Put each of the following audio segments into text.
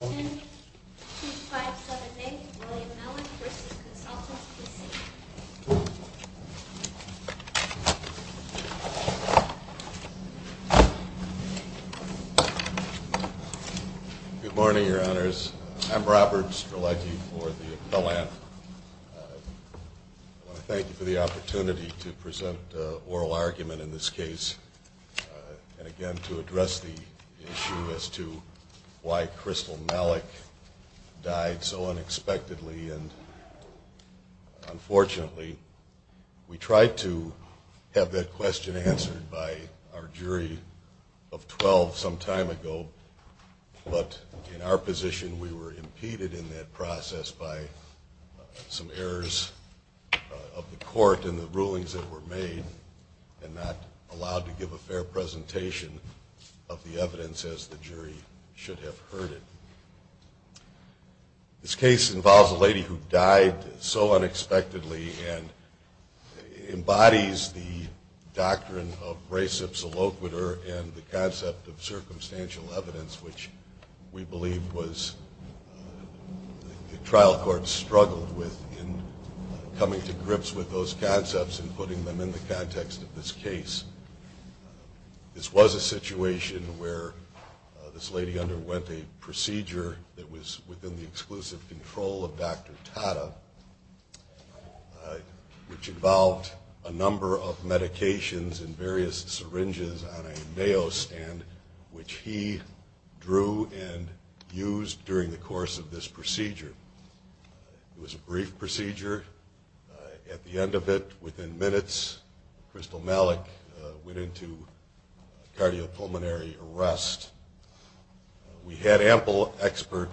Good morning, Your Honors. I'm Robert Stralecki for the Philan. I want to thank you for the opportunity to present oral argument in this case and again to address the issue as to why Crystal Malak died so unexpectedly and unfortunately we tried to have that question answered by our jury of 12 some time ago but in our position we were impeded in that process by some errors of the court and the rulings that were made and not allowed to give a fair presentation of the evidence as the jury should have heard it. This case involves a lady who died so unexpectedly and embodies the doctrine of res ipsa loquitur and the concept of circumstantial evidence which we believe was the trial court struggled with in coming to grips with those This was a situation where this lady underwent a procedure that was within the exclusive control of Dr. Tata which involved a number of medications and various syringes on a nail stand which he drew and used during the course of this procedure. It was a cardiopulmonary arrest. We had ample expert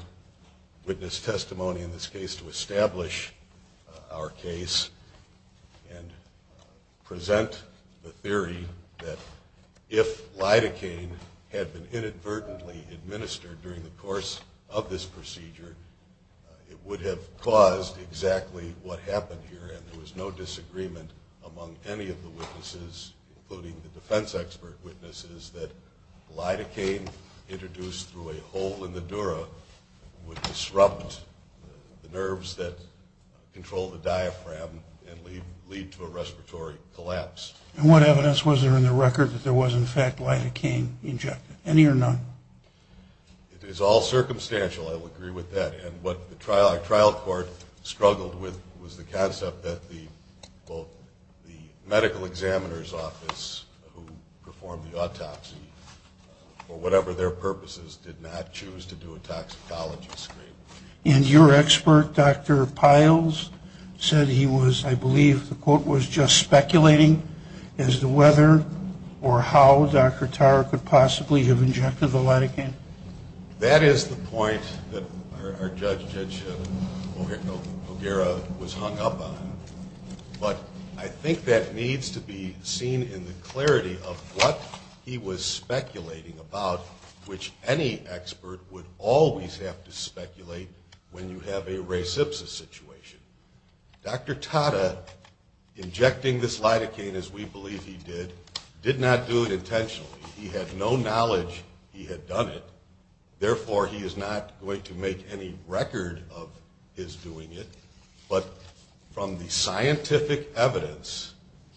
witness testimony in this case to establish our case and present the theory that if lidocaine had been inadvertently administered during the course of this procedure it would have caused exactly what happened here and there was no disagreement among any of the witnesses including the defense expert witnesses that lidocaine introduced through a hole in the dura would disrupt the nerves that control the diaphragm and lead to a respiratory collapse. And what evidence was there in the record that there was in fact lidocaine injected? Any or none? It is all circumstantial. I would agree with that. And what the trial court struggled with was the concept that the medical examiner's office who performed the autopsy for whatever their purposes did not choose to do a toxicology screen. And your expert, Dr. Piles, said he was I believe the quote was just speculating as to whether or how Dr. Tata could possibly have injected the lidocaine? That is the point that our judge, Judge O'Gara, was hung up on. But I think that needs to be seen in the clarity of what he was speculating about which any expert would always have to speculate when you have a res ipsa situation. Dr. Tata injecting this lidocaine as we believe he did, did not do it intentionally. He had no knowledge he had done it. Therefore, he is not going to make any record of his doing it. But from the scientific evidence,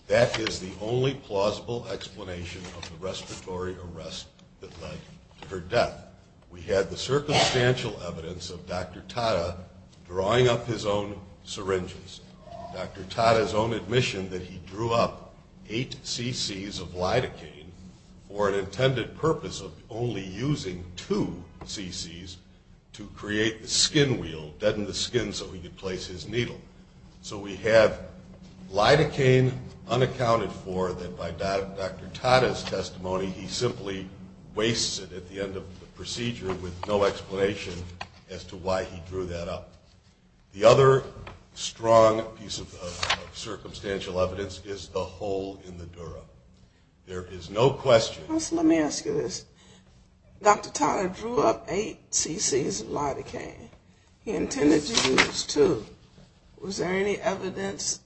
that is the only plausible explanation of the respiratory arrest that led to her death. We had the circumstantial evidence of Dr. Tata drawing up his own syringes. Dr. Tata's own admission that he drew up eight cc's of lidocaine for an intended purpose of only using two cc's to create the skin wheel, deaden the skin so he could place his needle. So we have lidocaine unaccounted for that by Dr. Tata's testimony he simply wastes it at the end of the procedure with no explanation as to why he drew that up. The other strong piece of circumstantial evidence is the hole in the dura. There is no question. Let me ask you this. Dr. Tata drew up eight cc's of lidocaine. He intended to use two. Was there any evidence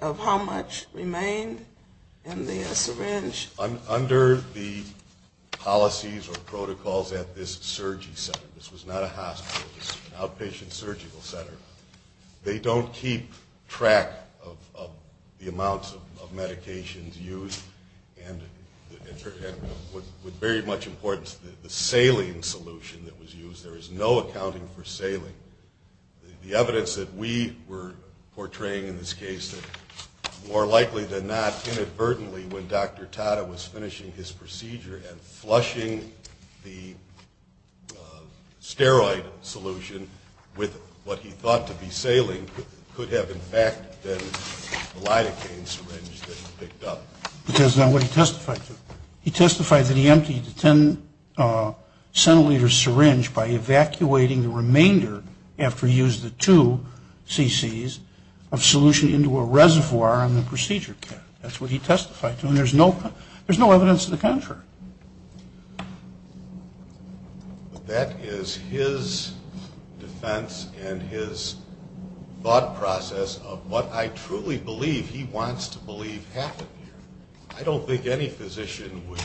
of how much remained in the syringe? Under the policies or protocols at this surgery center, this was not a hospital, this was an outpatient surgical center, they don't keep track of the amounts of medications used. And with very much importance the saline solution that was used. There is no accounting for saline. The evidence that we were portraying in this case that more likely than not inadvertently when Dr. Tata was finishing his procedure and flushing the steroid solution with what he thought to be saline could have in fact been lidocaine syringe that he picked up. Because of what he testified to. He testified that he emptied the 10 centiliters syringe by evacuating the remainder after he used the two cc's of solution into a reservoir on the procedure kit. That's what he testified to and there's no evidence of the contrary. That is his defense and his thought process of what I truly believe he wants to believe happened here. I don't think any physician would,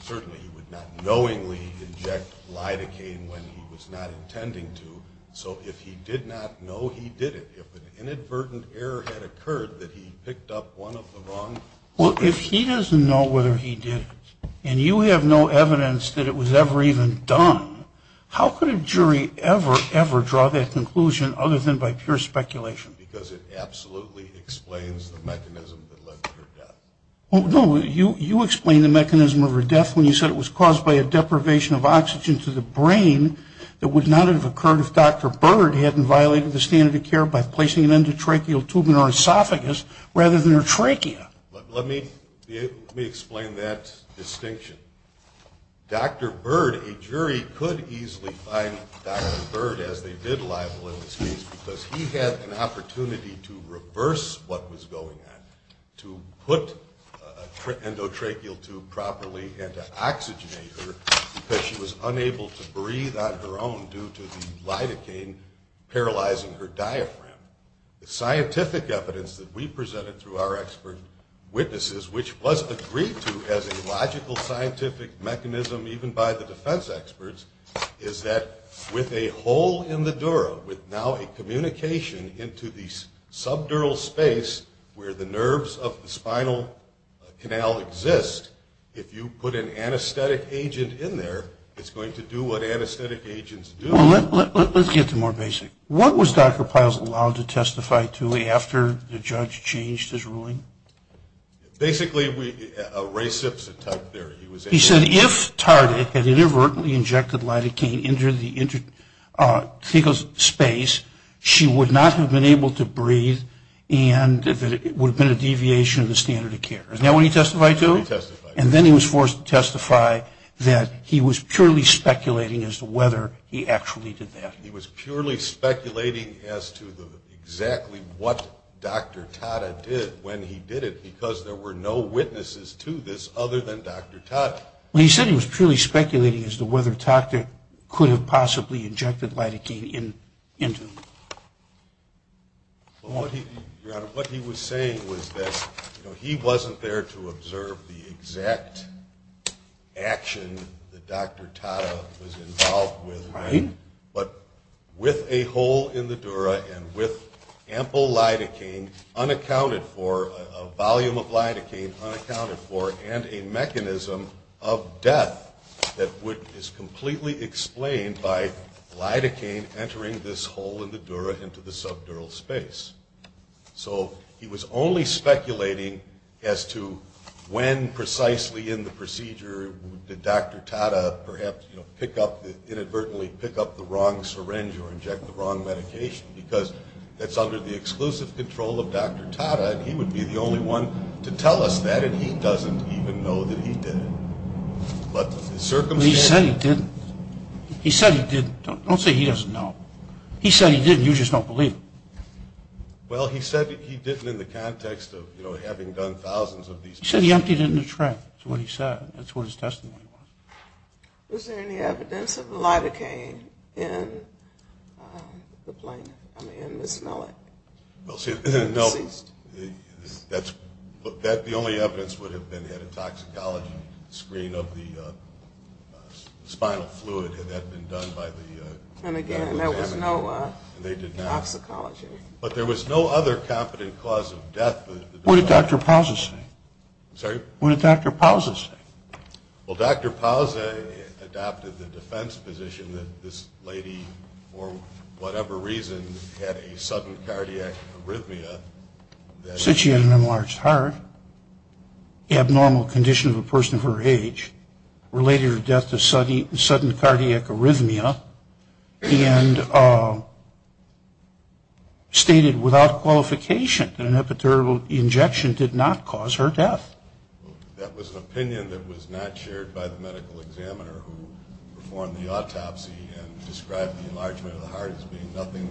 certainly he would not knowingly inject lidocaine when he was not intending to. So if he did not know he did it, if an inadvertent error had occurred that he picked up one of the wrong... Well if he doesn't know whether he did it and you have no evidence that it was ever even done, how could a jury ever, ever draw that conclusion other than by pure speculation? Because it absolutely explains the mechanism that led to her death. No, you explained the mechanism of her death when you said it was caused by a deprivation of oxygen to the brain that would not have occurred if Dr. Bird hadn't violated the standard of care by placing an endotracheal tube in her esophagus rather than her trachea. Let me explain that distinction. Dr. Bird, a jury could easily find Dr. Bird as the bid libel in this case because he had an opportunity to reverse what was going on. To put an endotracheal tube properly and to oxygenate her because she was unable to breathe on her own due to the lidocaine paralyzing her diaphragm. The scientific evidence that we presented through our expert witnesses, which was agreed to as a logical scientific mechanism even by the defense experts, is that with a hole in the dura, with now a communication into the subdural space where the nerves of the spinal canal exist, if you put an anesthetic agent in there, it's going to do what anesthetic agents do. Let's get to more basic. What was Dr. Piles allowed to testify to after the judge changed his ruling? Basically, Ray Sips had talked there. He said if Tardik had inadvertently injected lidocaine into the esophagus space, she would not have been able to breathe and that it would have been a deviation of the standard of care. Is that what he testified to? That's what he testified to. And then he was forced to testify that he was purely speculating as to whether he actually did that. He was purely speculating as to exactly what Dr. Tardik did when he did it because there were no witnesses to this other than Dr. Tardik. He said he was purely speculating as to whether Tardik could have possibly injected lidocaine into him. Your Honor, what he was saying was that he wasn't there to observe the exact action that Dr. Tardik was involved with, but with a hole in the dura and with ample lidocaine unaccounted for, a volume of lidocaine unaccounted for, and a mechanism of death that is completely explained by lidocaine entering this hole in the dura into the subdural space. So he was only speculating as to when precisely in the procedure did Dr. Tardik perhaps inadvertently pick up the wrong syringe or inject the wrong medication because that's under the exclusive control of Dr. Tardik. He said he would be the only one to tell us that and he doesn't even know that he did it. He said he didn't. He said he didn't. Don't say he doesn't know. He said he didn't. You just don't believe him. Well, he said he didn't in the context of, you know, having done thousands of these. He said he emptied it in the trap. That's what he said. That's what his testimony was. Was there any evidence of lidocaine in the plane, I mean, in Ms. Mellick? Well, see, the only evidence would have been had a toxicology screen of the spinal fluid had that been done by the And again, there was no toxicology. But there was no other confident cause of death. What did Dr. Pousen say? I'm sorry? What did Dr. Pousen say? Well, Dr. Pousen adopted the defense position that this lady, for whatever reason, had a sudden cardiac arrhythmia that Since she had an enlarged heart, abnormal condition of a person of her age, related her death to sudden cardiac arrhythmia, and stated without qualification that an epidural injection did not cause her death. That was an opinion that was not shared by the medical examiner who performed the autopsy and described the enlargement of the heart as being nothing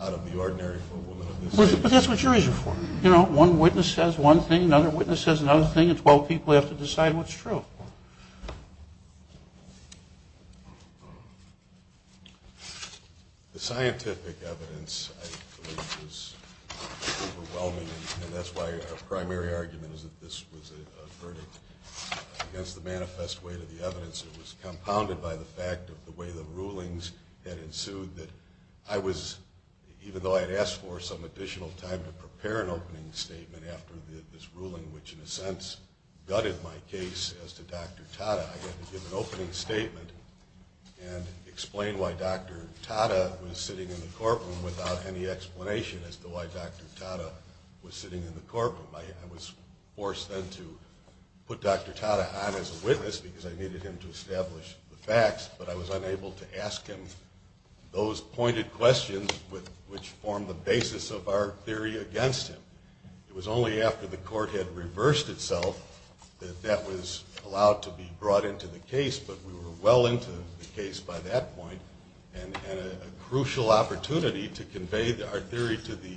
out of the ordinary for a woman of this age. But that's what you're reasoning for. You know, one witness says one thing, another witness says another thing, and 12 people have to decide what's true. The scientific evidence, I believe, was overwhelming, and that's why our primary argument is that this was a verdict against the manifest weight of the evidence. It was compounded by the fact of the way the rulings had ensued that I was, even though I had asked for some additional time to prepare an opening statement after this ruling, which in a sense gutted my case as to Dr. Tata, I had to give an opening statement and explain why Dr. Tata was sitting in the courtroom without any explanation as to why Dr. Tata was sitting in the courtroom. I was forced then to put Dr. Tata on as a witness because I needed him to establish the facts, but I was unable to ask him those pointed questions which formed the basis of our theory against him. It was only after the court had reversed itself that that was allowed to be brought into the case, but we were well into the case by that point, and a crucial opportunity to convey our theory to the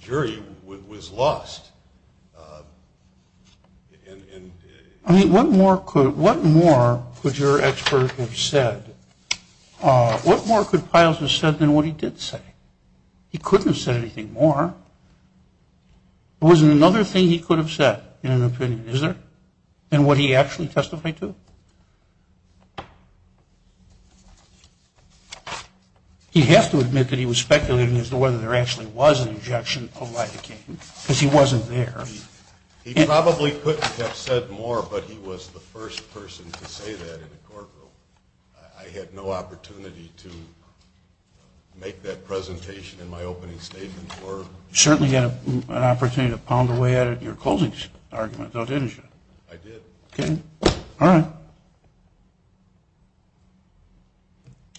jury was lost. I mean, what more could your expert have said? What more could Peierls have said than what he did say? He couldn't have said anything more. There wasn't another thing he could have said in an opinion, is there, than what he actually testified to? He'd have to admit that he was speculating as to whether there actually was an injection of lidocaine, because he wasn't there. He probably couldn't have said more, but he was the first person to say that in a courtroom. I had no opportunity to make that presentation in my opening statement. You certainly had an opportunity to pound away at it in your closing argument, though, didn't you? I did. Okay. All right.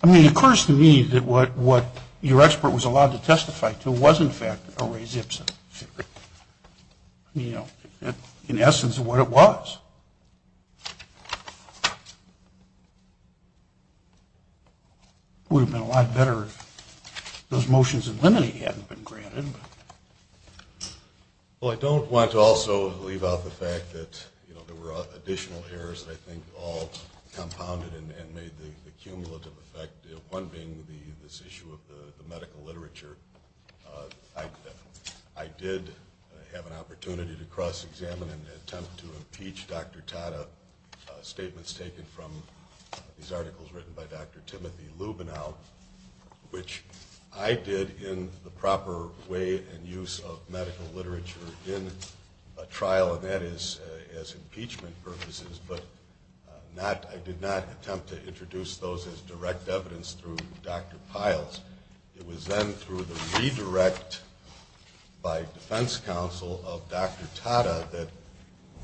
I mean, it occurs to me that what your expert was allowed to testify to was, in fact, a Ray Zipson theory. You know, in essence, what it was. It would have been a lot better if those motions in limine hadn't been granted. Well, I don't want to also leave out the fact that there were additional errors that I think all compounded and made the cumulative effect, one being this issue of the medical literature. I did have an opportunity to cross-examine and attempt to impeach Dr. Tata, statements taken from these articles written by Dr. Timothy Lubinow, which I did in the proper way and use of medical literature in a trial, and that is as impeachment purposes, but I did not attempt to introduce those as direct evidence through Dr. Piles. It was then through the redirect by defense counsel of Dr. Tata that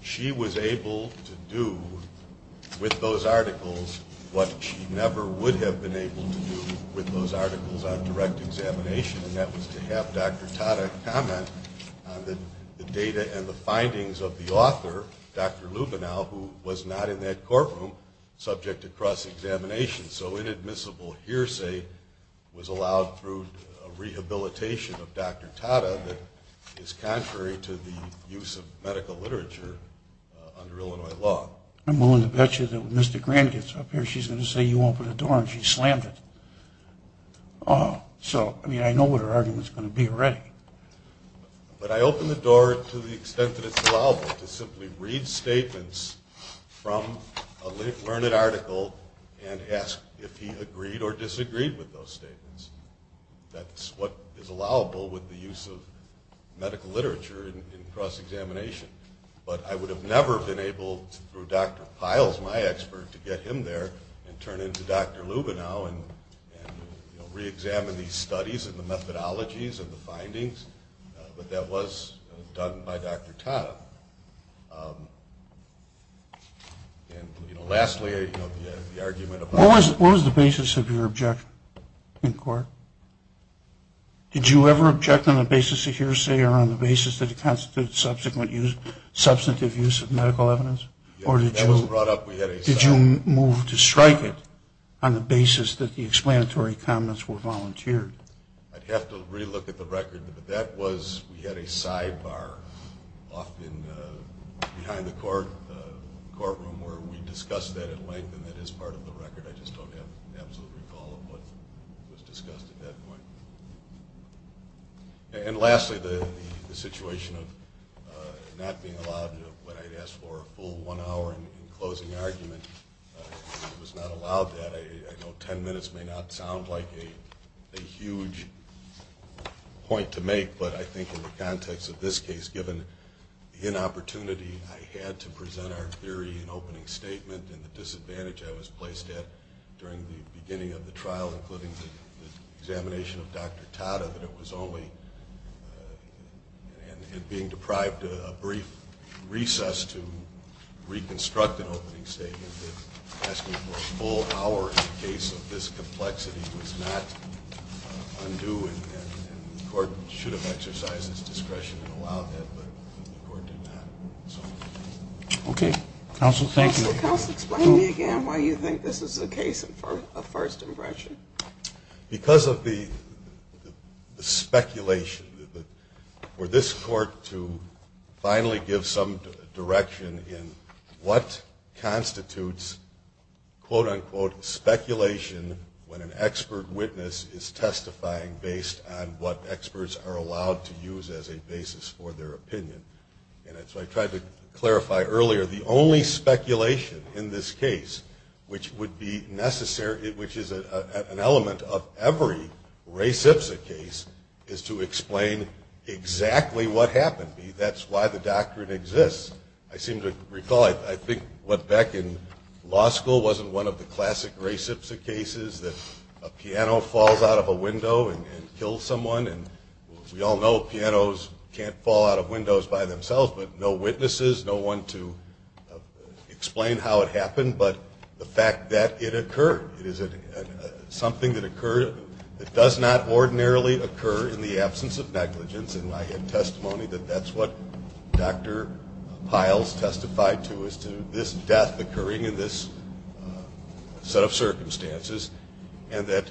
she was able to do with those articles what she never would have been able to do with those articles on direct examination, and that was to have Dr. Tata comment on the data and the findings of the author, Dr. Lubinow, who was not in that courtroom subject to cross-examination. So inadmissible hearsay was allowed through a rehabilitation of Dr. Tata that is contrary to the use of medical literature under Illinois law. I'm willing to bet you that when Mr. Grant gets up here, she's going to say you opened the door and she slammed it. So, I mean, I know what her argument is going to be already. But I opened the door to the extent that it's allowable to simply read statements from a learned article and ask if he agreed or disagreed with those statements. That's what is allowable with the use of medical literature in cross-examination, but I would have never been able, through Dr. Piles, my expert, to get him there and turn into Dr. Lubinow and re-examine these studies and the methodologies and the findings, but that was done by Dr. Tata. And, you know, lastly, the argument about... Did you ever object on the basis of hearsay or on the basis that it constitutes substantive use of medical evidence? That was brought up. Did you move to strike it on the basis that the explanatory comments were volunteered? I'd have to re-look at the record, but that was, we had a sidebar often behind the courtroom where we discussed that at length and that is part of the record. I just don't have an absolute recall of what was discussed at that point. And lastly, the situation of not being allowed, when I'd ask for a full one hour in closing argument, it was not allowed that. I know ten minutes may not sound like a huge point to make, but I think in the context of this case, given the inopportunity, I had to present our theory in opening statement and the disadvantage I was placed at during the beginning of the trial, including the examination of Dr. Tata, that it was only being deprived a brief recess to reconstruct an opening statement that asking for a full hour in the case of this complexity was not undue and the court should have exercised its discretion and allowed that, but the court did not. Counsel, explain to me again why you think this is a case of first impression. Because of the speculation. For this court to finally give some direction in what constitutes quote unquote speculation when an expert witness is testifying based on what experts are allowed to use as a basis for their opinion. And so I tried to clarify earlier, the only speculation in this case, which would be necessary, which is an element of every Ray Sipsa case, is to explain exactly what happened. That's why the doctrine exists. I seem to recall, I think what back in law school wasn't one of the classic Ray Sipsa cases that a piano falls out of a window and kills someone. We all know pianos can't fall out of windows by themselves, but no witnesses, no one to explain how it happened, but the fact that it occurred. It is something that does not ordinarily occur in the absence of negligence and I had testimony that that's what Dr. Piles testified to as to this death occurring in this set of circumstances and that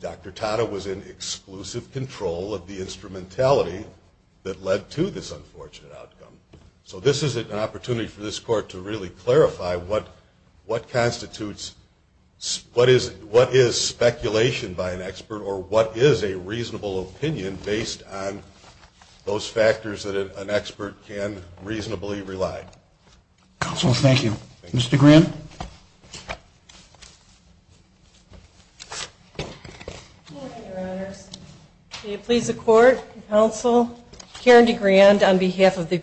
Dr. Tata was in exclusive control of the instrumentality that led to this unfortunate outcome. So this is an opportunity for this court to really clarify what constitutes, what is speculation by an expert or what is a reasonable opinion based on those factors that an expert can reasonably rely. Counsel, thank you. Mr. Grand. Good morning, Your Honors. May it please the court, counsel, Karen DeGrand on behalf of the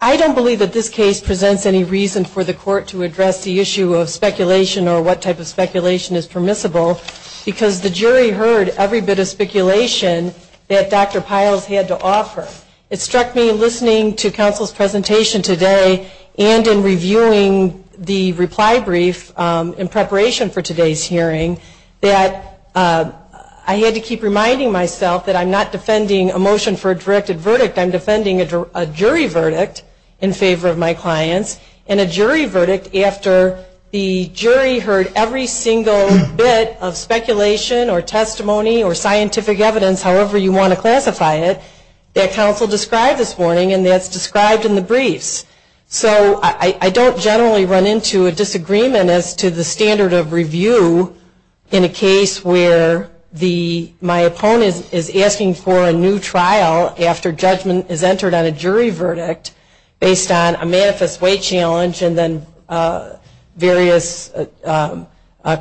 I don't believe that this case presents any reason for the court to address the issue of speculation or what type of speculation is permissible because the jury heard every bit of speculation that Dr. Piles had to offer. It struck me listening to counsel's presentation today and in reviewing the reply brief in preparation for today's hearing that I had to keep reminding myself that I'm not defending a motion for a directed verdict, I'm defending a jury verdict in favor of my clients and a jury verdict after the jury heard every single bit of speculation or testimony or scientific evidence, however you want to classify it, that counsel described this morning and that's described in the briefs. So I don't generally run into a disagreement as to the standard of review in a case where my opponent is asking for a new trial after judgment is entered on a jury verdict based on a manifest way challenge and then various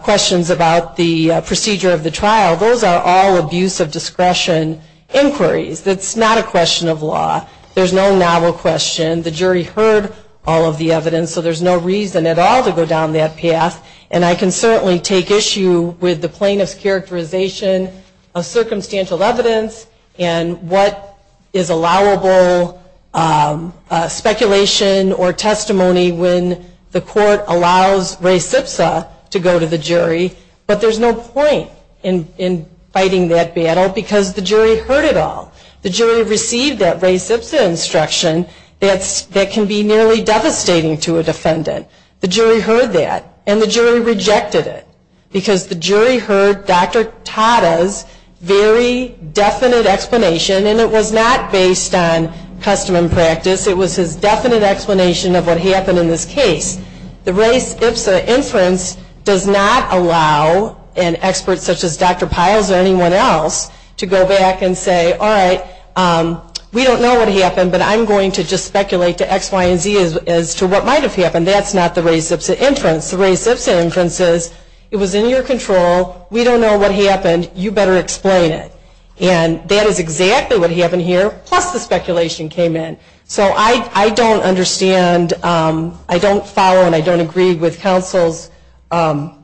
questions about the procedure of the trial. Those are all abuse of discretion inquiries. That's not a question of law. There's no novel question. The jury heard all of the evidence so there's no reason at all to go down that path and I can certainly take issue with the plaintiff's characterization of circumstantial evidence and what is allowable speculation or testimony when the court allows Ray Sipsa to go to the jury, but there's no point in fighting that battle because the jury heard it all. The jury received that Ray Sipsa instruction that can be nearly devastating to a defendant. The jury heard that and the jury rejected it because the jury heard Dr. Tata's very definite explanation and it was not based on custom and practice, it was his definite explanation of what happened in this case. The Ray Sipsa inference does not allow an expert such as Dr. Piles or anyone else to go back and say, all right, we don't know what happened but I'm going to just speculate to X, Y, and Z as to what might have happened. That's not the Ray Sipsa inference. The Ray Sipsa inference is it was in your control, we don't know what happened, you better explain it. And that is exactly what happened here plus the speculation came in. So I don't understand, I don't follow and I don't agree with counsel's argument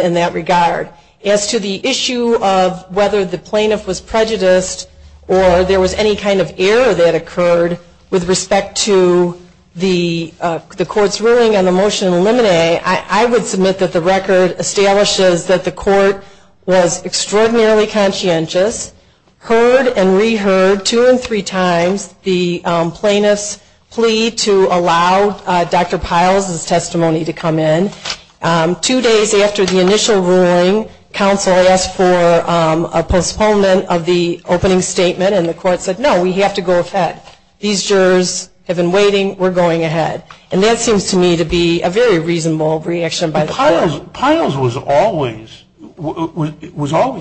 in that regard. As to the issue of whether the plaintiff was prejudiced or there was any kind of error that occurred with respect to the court's ruling on the motion to eliminate, I would submit that the record establishes that the court was extraordinarily conscientious, heard and reheard two and three times the plaintiff's plea to allow Dr. Piles' testimony to come in. Two days after the initial ruling, counsel asked for a postponement of the opening statement and the court said, no, we have to go ahead. These jurors have been waiting, we're going ahead. And that seems to me to be a very reasonable reaction by the court. Piles was always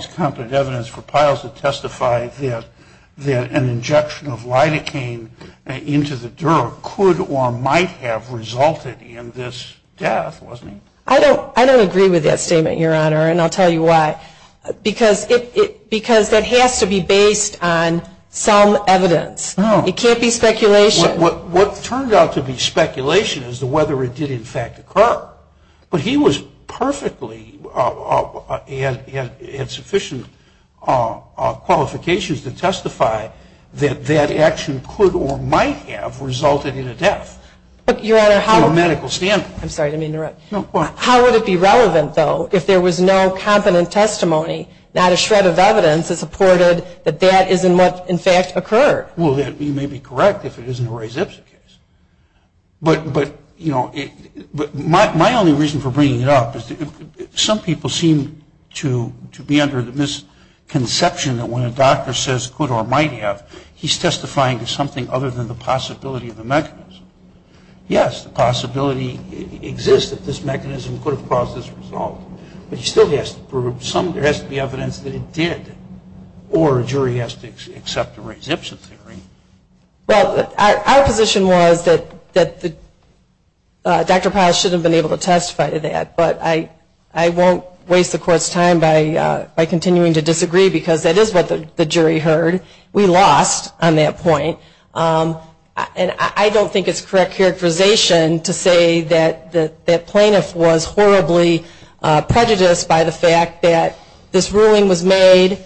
competent evidence for Piles to testify that an injection of lidocaine into the drug could or might have resulted in this death, wasn't he? I don't agree with that statement, Your Honor, and I'll tell you why. Because that has to be based on some evidence. It can't be speculation. What turned out to be speculation is whether it did in fact occur. But he was perfectly and had sufficient qualifications to testify that that action could or might have resulted in a death from a medical standpoint. I'm sorry to interrupt. How would it be relevant, though, if there was no competent testimony, not a Ray Zipson case? My only reason for bringing it up is some people seem to be under the misconception that when a doctor says could or might have, he's testifying to something other than the possibility of a mechanism. Yes, the possibility exists that this mechanism could have caused this result, but he still has to prove some, there has to be evidence that it did, or a jury has to accept a Ray Zipson theory. Well, our position was that Dr. Piles shouldn't have been able to testify to that, but I won't waste the Court's time by continuing to disagree because that is what the jury heard. We lost on that point. And I don't think it's correct characterization to say that that plaintiff was horribly prejudiced by the fact that this ruling was made,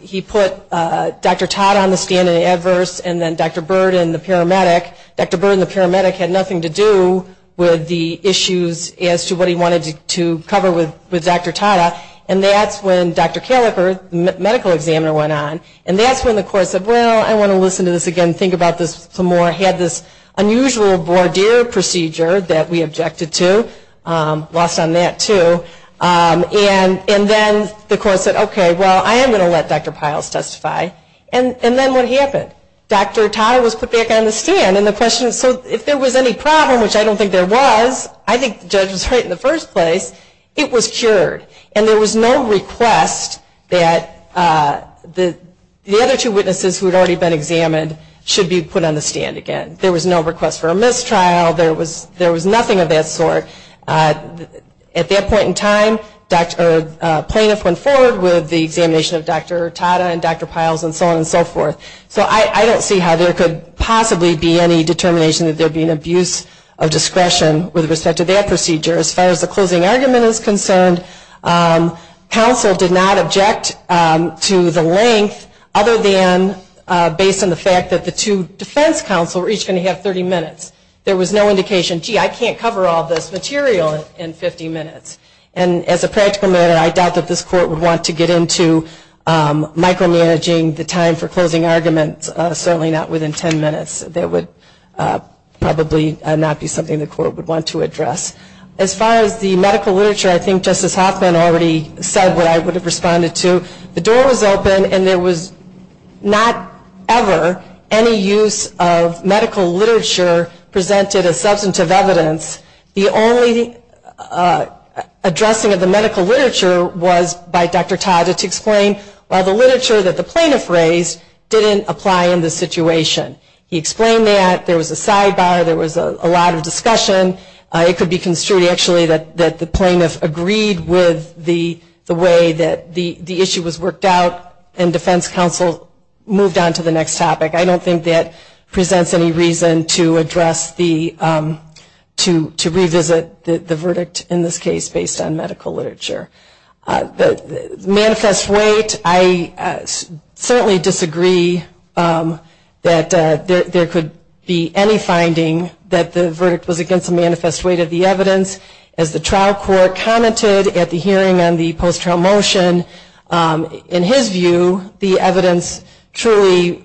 he put Dr. Tata on the stand in adverse, and then Dr. Byrd and the paramedic. Dr. Byrd and the paramedic had nothing to do with the issues as to what he wanted to cover with Dr. Tata, and that's when Dr. Caliper, the medical examiner, went on. And that's when the Court said, well, I want to listen to this again, think about this some more, had this unusual voir dire procedure that we objected to, lost on that too, and then the Court said, okay, well, I am going to let Dr. Piles testify. And then what happened? Dr. Tata was put back on the stand, and the question is, so if there was any problem, which I don't think there was, I think the judge was right in the first place, it was cured, and there was no request that the other two witnesses who had already been examined should be put on the stand again. There was no request for a mistrial, there was nothing of that sort. At that point in time, plaintiff went forward with the examination of Dr. Tata and Dr. Piles and so on and so forth. So I don't see how there could possibly be any determination that there would be an abuse of discretion with respect to that procedure. As far as the closing argument is concerned, counsel did not object to the length other than based on the fact that the two defense counsel were each going to have 30 minutes. There was no indication, gee, I can't cover all this material in 50 minutes. And as a practical matter, I doubt that this Court would want to get into micromanaging the time for closing arguments, certainly not within 10 minutes. There would probably not be something the Court would want to address. As far as the medical literature, I think Justice Hoffman already said what I would have responded to. The door was open and there was not ever any use of medical literature presented as substantive evidence. The only addressing of the medical literature was by Dr. Tata to explain, well, the literature that the plaintiff raised didn't apply in this situation. He explained that, there was a sidebar, there was a lot of discussion. It could be construed actually that the plaintiff agreed with the way that the issue was worked out and defense counsel moved on to the next topic. I don't think that presents any reason to revisit the verdict in this case based on medical literature. Manifest weight, I certainly disagree that there could be any finding that the verdict was against the manifest weight of the evidence. As the trial court commented at the hearing on the post-trial motion, in his view, the evidence truly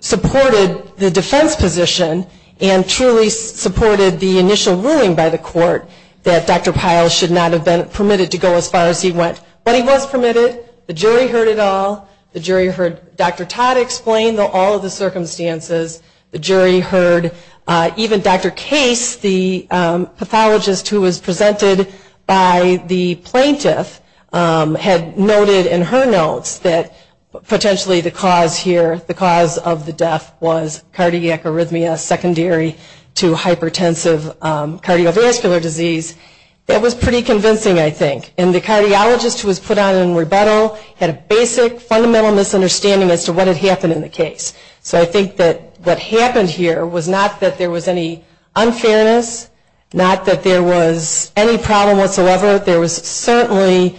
supported the defense position and truly supported the initial ruling by the court that Dr. Pyle should not have been permitted to speak but he was permitted. The jury heard it all. The jury heard Dr. Tata explain all of the circumstances. The jury heard even Dr. Case, the pathologist who was presented by the plaintiff, had noted in her notes that potentially the cause here, the cause of the death was cardiac arrhythmia secondary to hypertensive cardiovascular disease. That was pretty convincing, I think. And the cardiologist who was put on rebuttal had a basic fundamental misunderstanding as to what had happened in the case. So I think that what happened here was not that there was any unfairness, not that there was any problem whatsoever. There was certainly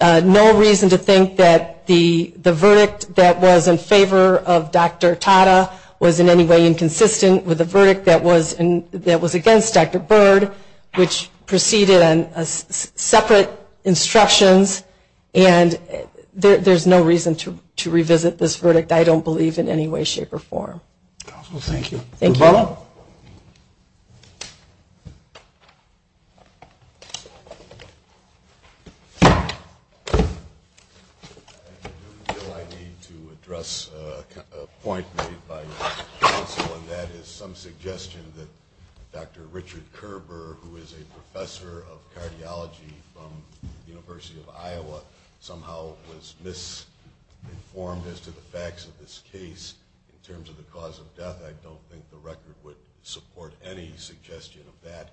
no reason to think that the verdict that was in favor of Dr. Tata was in any way inconsistent with the verdict that was presented. The jury proceeded on separate instructions, and there's no reason to revisit this verdict, I don't believe, in any way, shape, or form. Thank you. I do feel I need to address a point made by counsel, and that is some suggestion that Dr. Richard Kerber, who is a professor of cardiology from the University of Iowa, somehow was misinformed as to the facts of this case. In terms of the cause of death, I don't think the record would support any suggestion of that.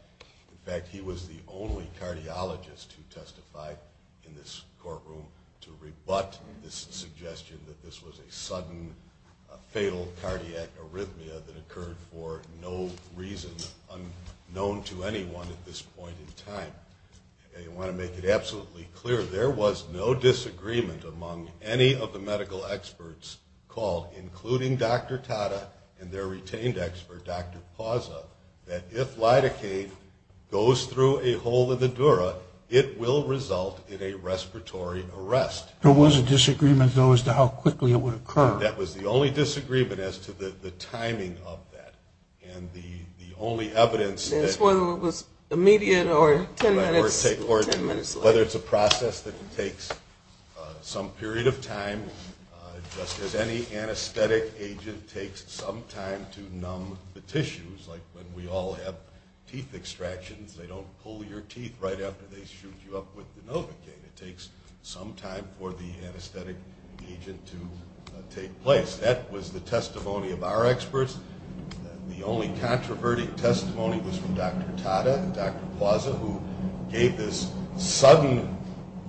In fact, he was the only cardiologist who testified in this courtroom to rebut this suggestion that this was a sudden fatal cardiac arrhythmia that occurred for no reason unknown to anyone at this point in time. I want to make it absolutely clear, there was no disagreement among any of the medical experts called, including Dr. Tata and their retained expert, Dr. Pazza, that if lidocaine goes through a hole in the dura, it will result in a respiratory arrest. There was a disagreement, though, as to how quickly it would occur. That was the only disagreement as to the timing of that, and the only evidence that we have of that is that the anesthetic agent took some time to numb the tissues. Like when we all have teeth extractions, they don't pull your teeth right after they shoot you up with lidocaine. It takes some time for the anesthetic agent to take place. That was the testimony of our experts. The only controverting testimony was from Dr. Tata and Dr. Pazza, who gave this sudden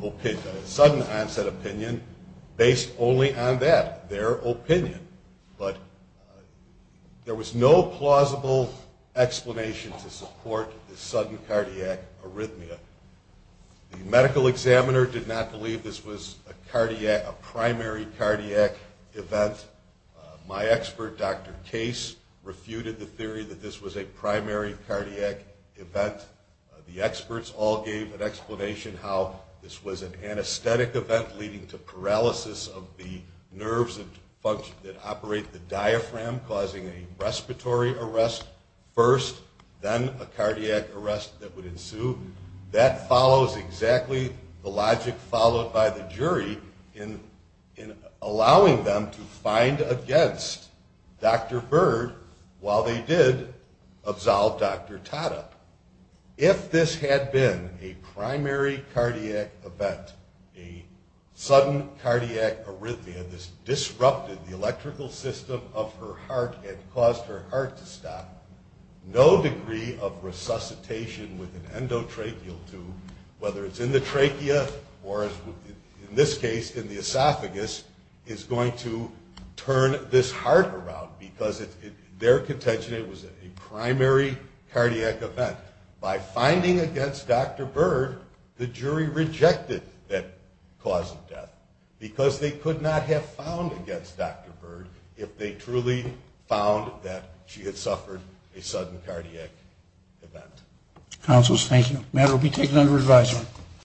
onset opinion based only on that, their opinion. But there was no plausible explanation to support the sudden cardiac arrhythmia. The medical examiner did not believe this was a primary cardiac event, and my expert, Dr. Case, refuted the theory that this was a primary cardiac event. The experts all gave an explanation how this was an anesthetic event leading to paralysis of the nerves that operate the diaphragm, causing a respiratory arrest first, then a cardiac arrest that would ensue. That follows exactly the logic followed by the jury in allowing them to find a cardiac arrest, and against Dr. Byrd, while they did absolve Dr. Tata. If this had been a primary cardiac event, a sudden cardiac arrhythmia, this disrupted the electrical system of her heart and caused her heart to stop, no degree of resuscitation with an endotracheal tube, whether it's in the trachea, or in this case, in the esophagus, is going to turn this heart around, because their contention, it was a primary cardiac event. By finding against Dr. Byrd, the jury rejected that cause of death, because they could not have found against Dr. Byrd if they truly found that she had suffered a sudden cardiac event. Counsels, thank you. Matter will be taken under advisory.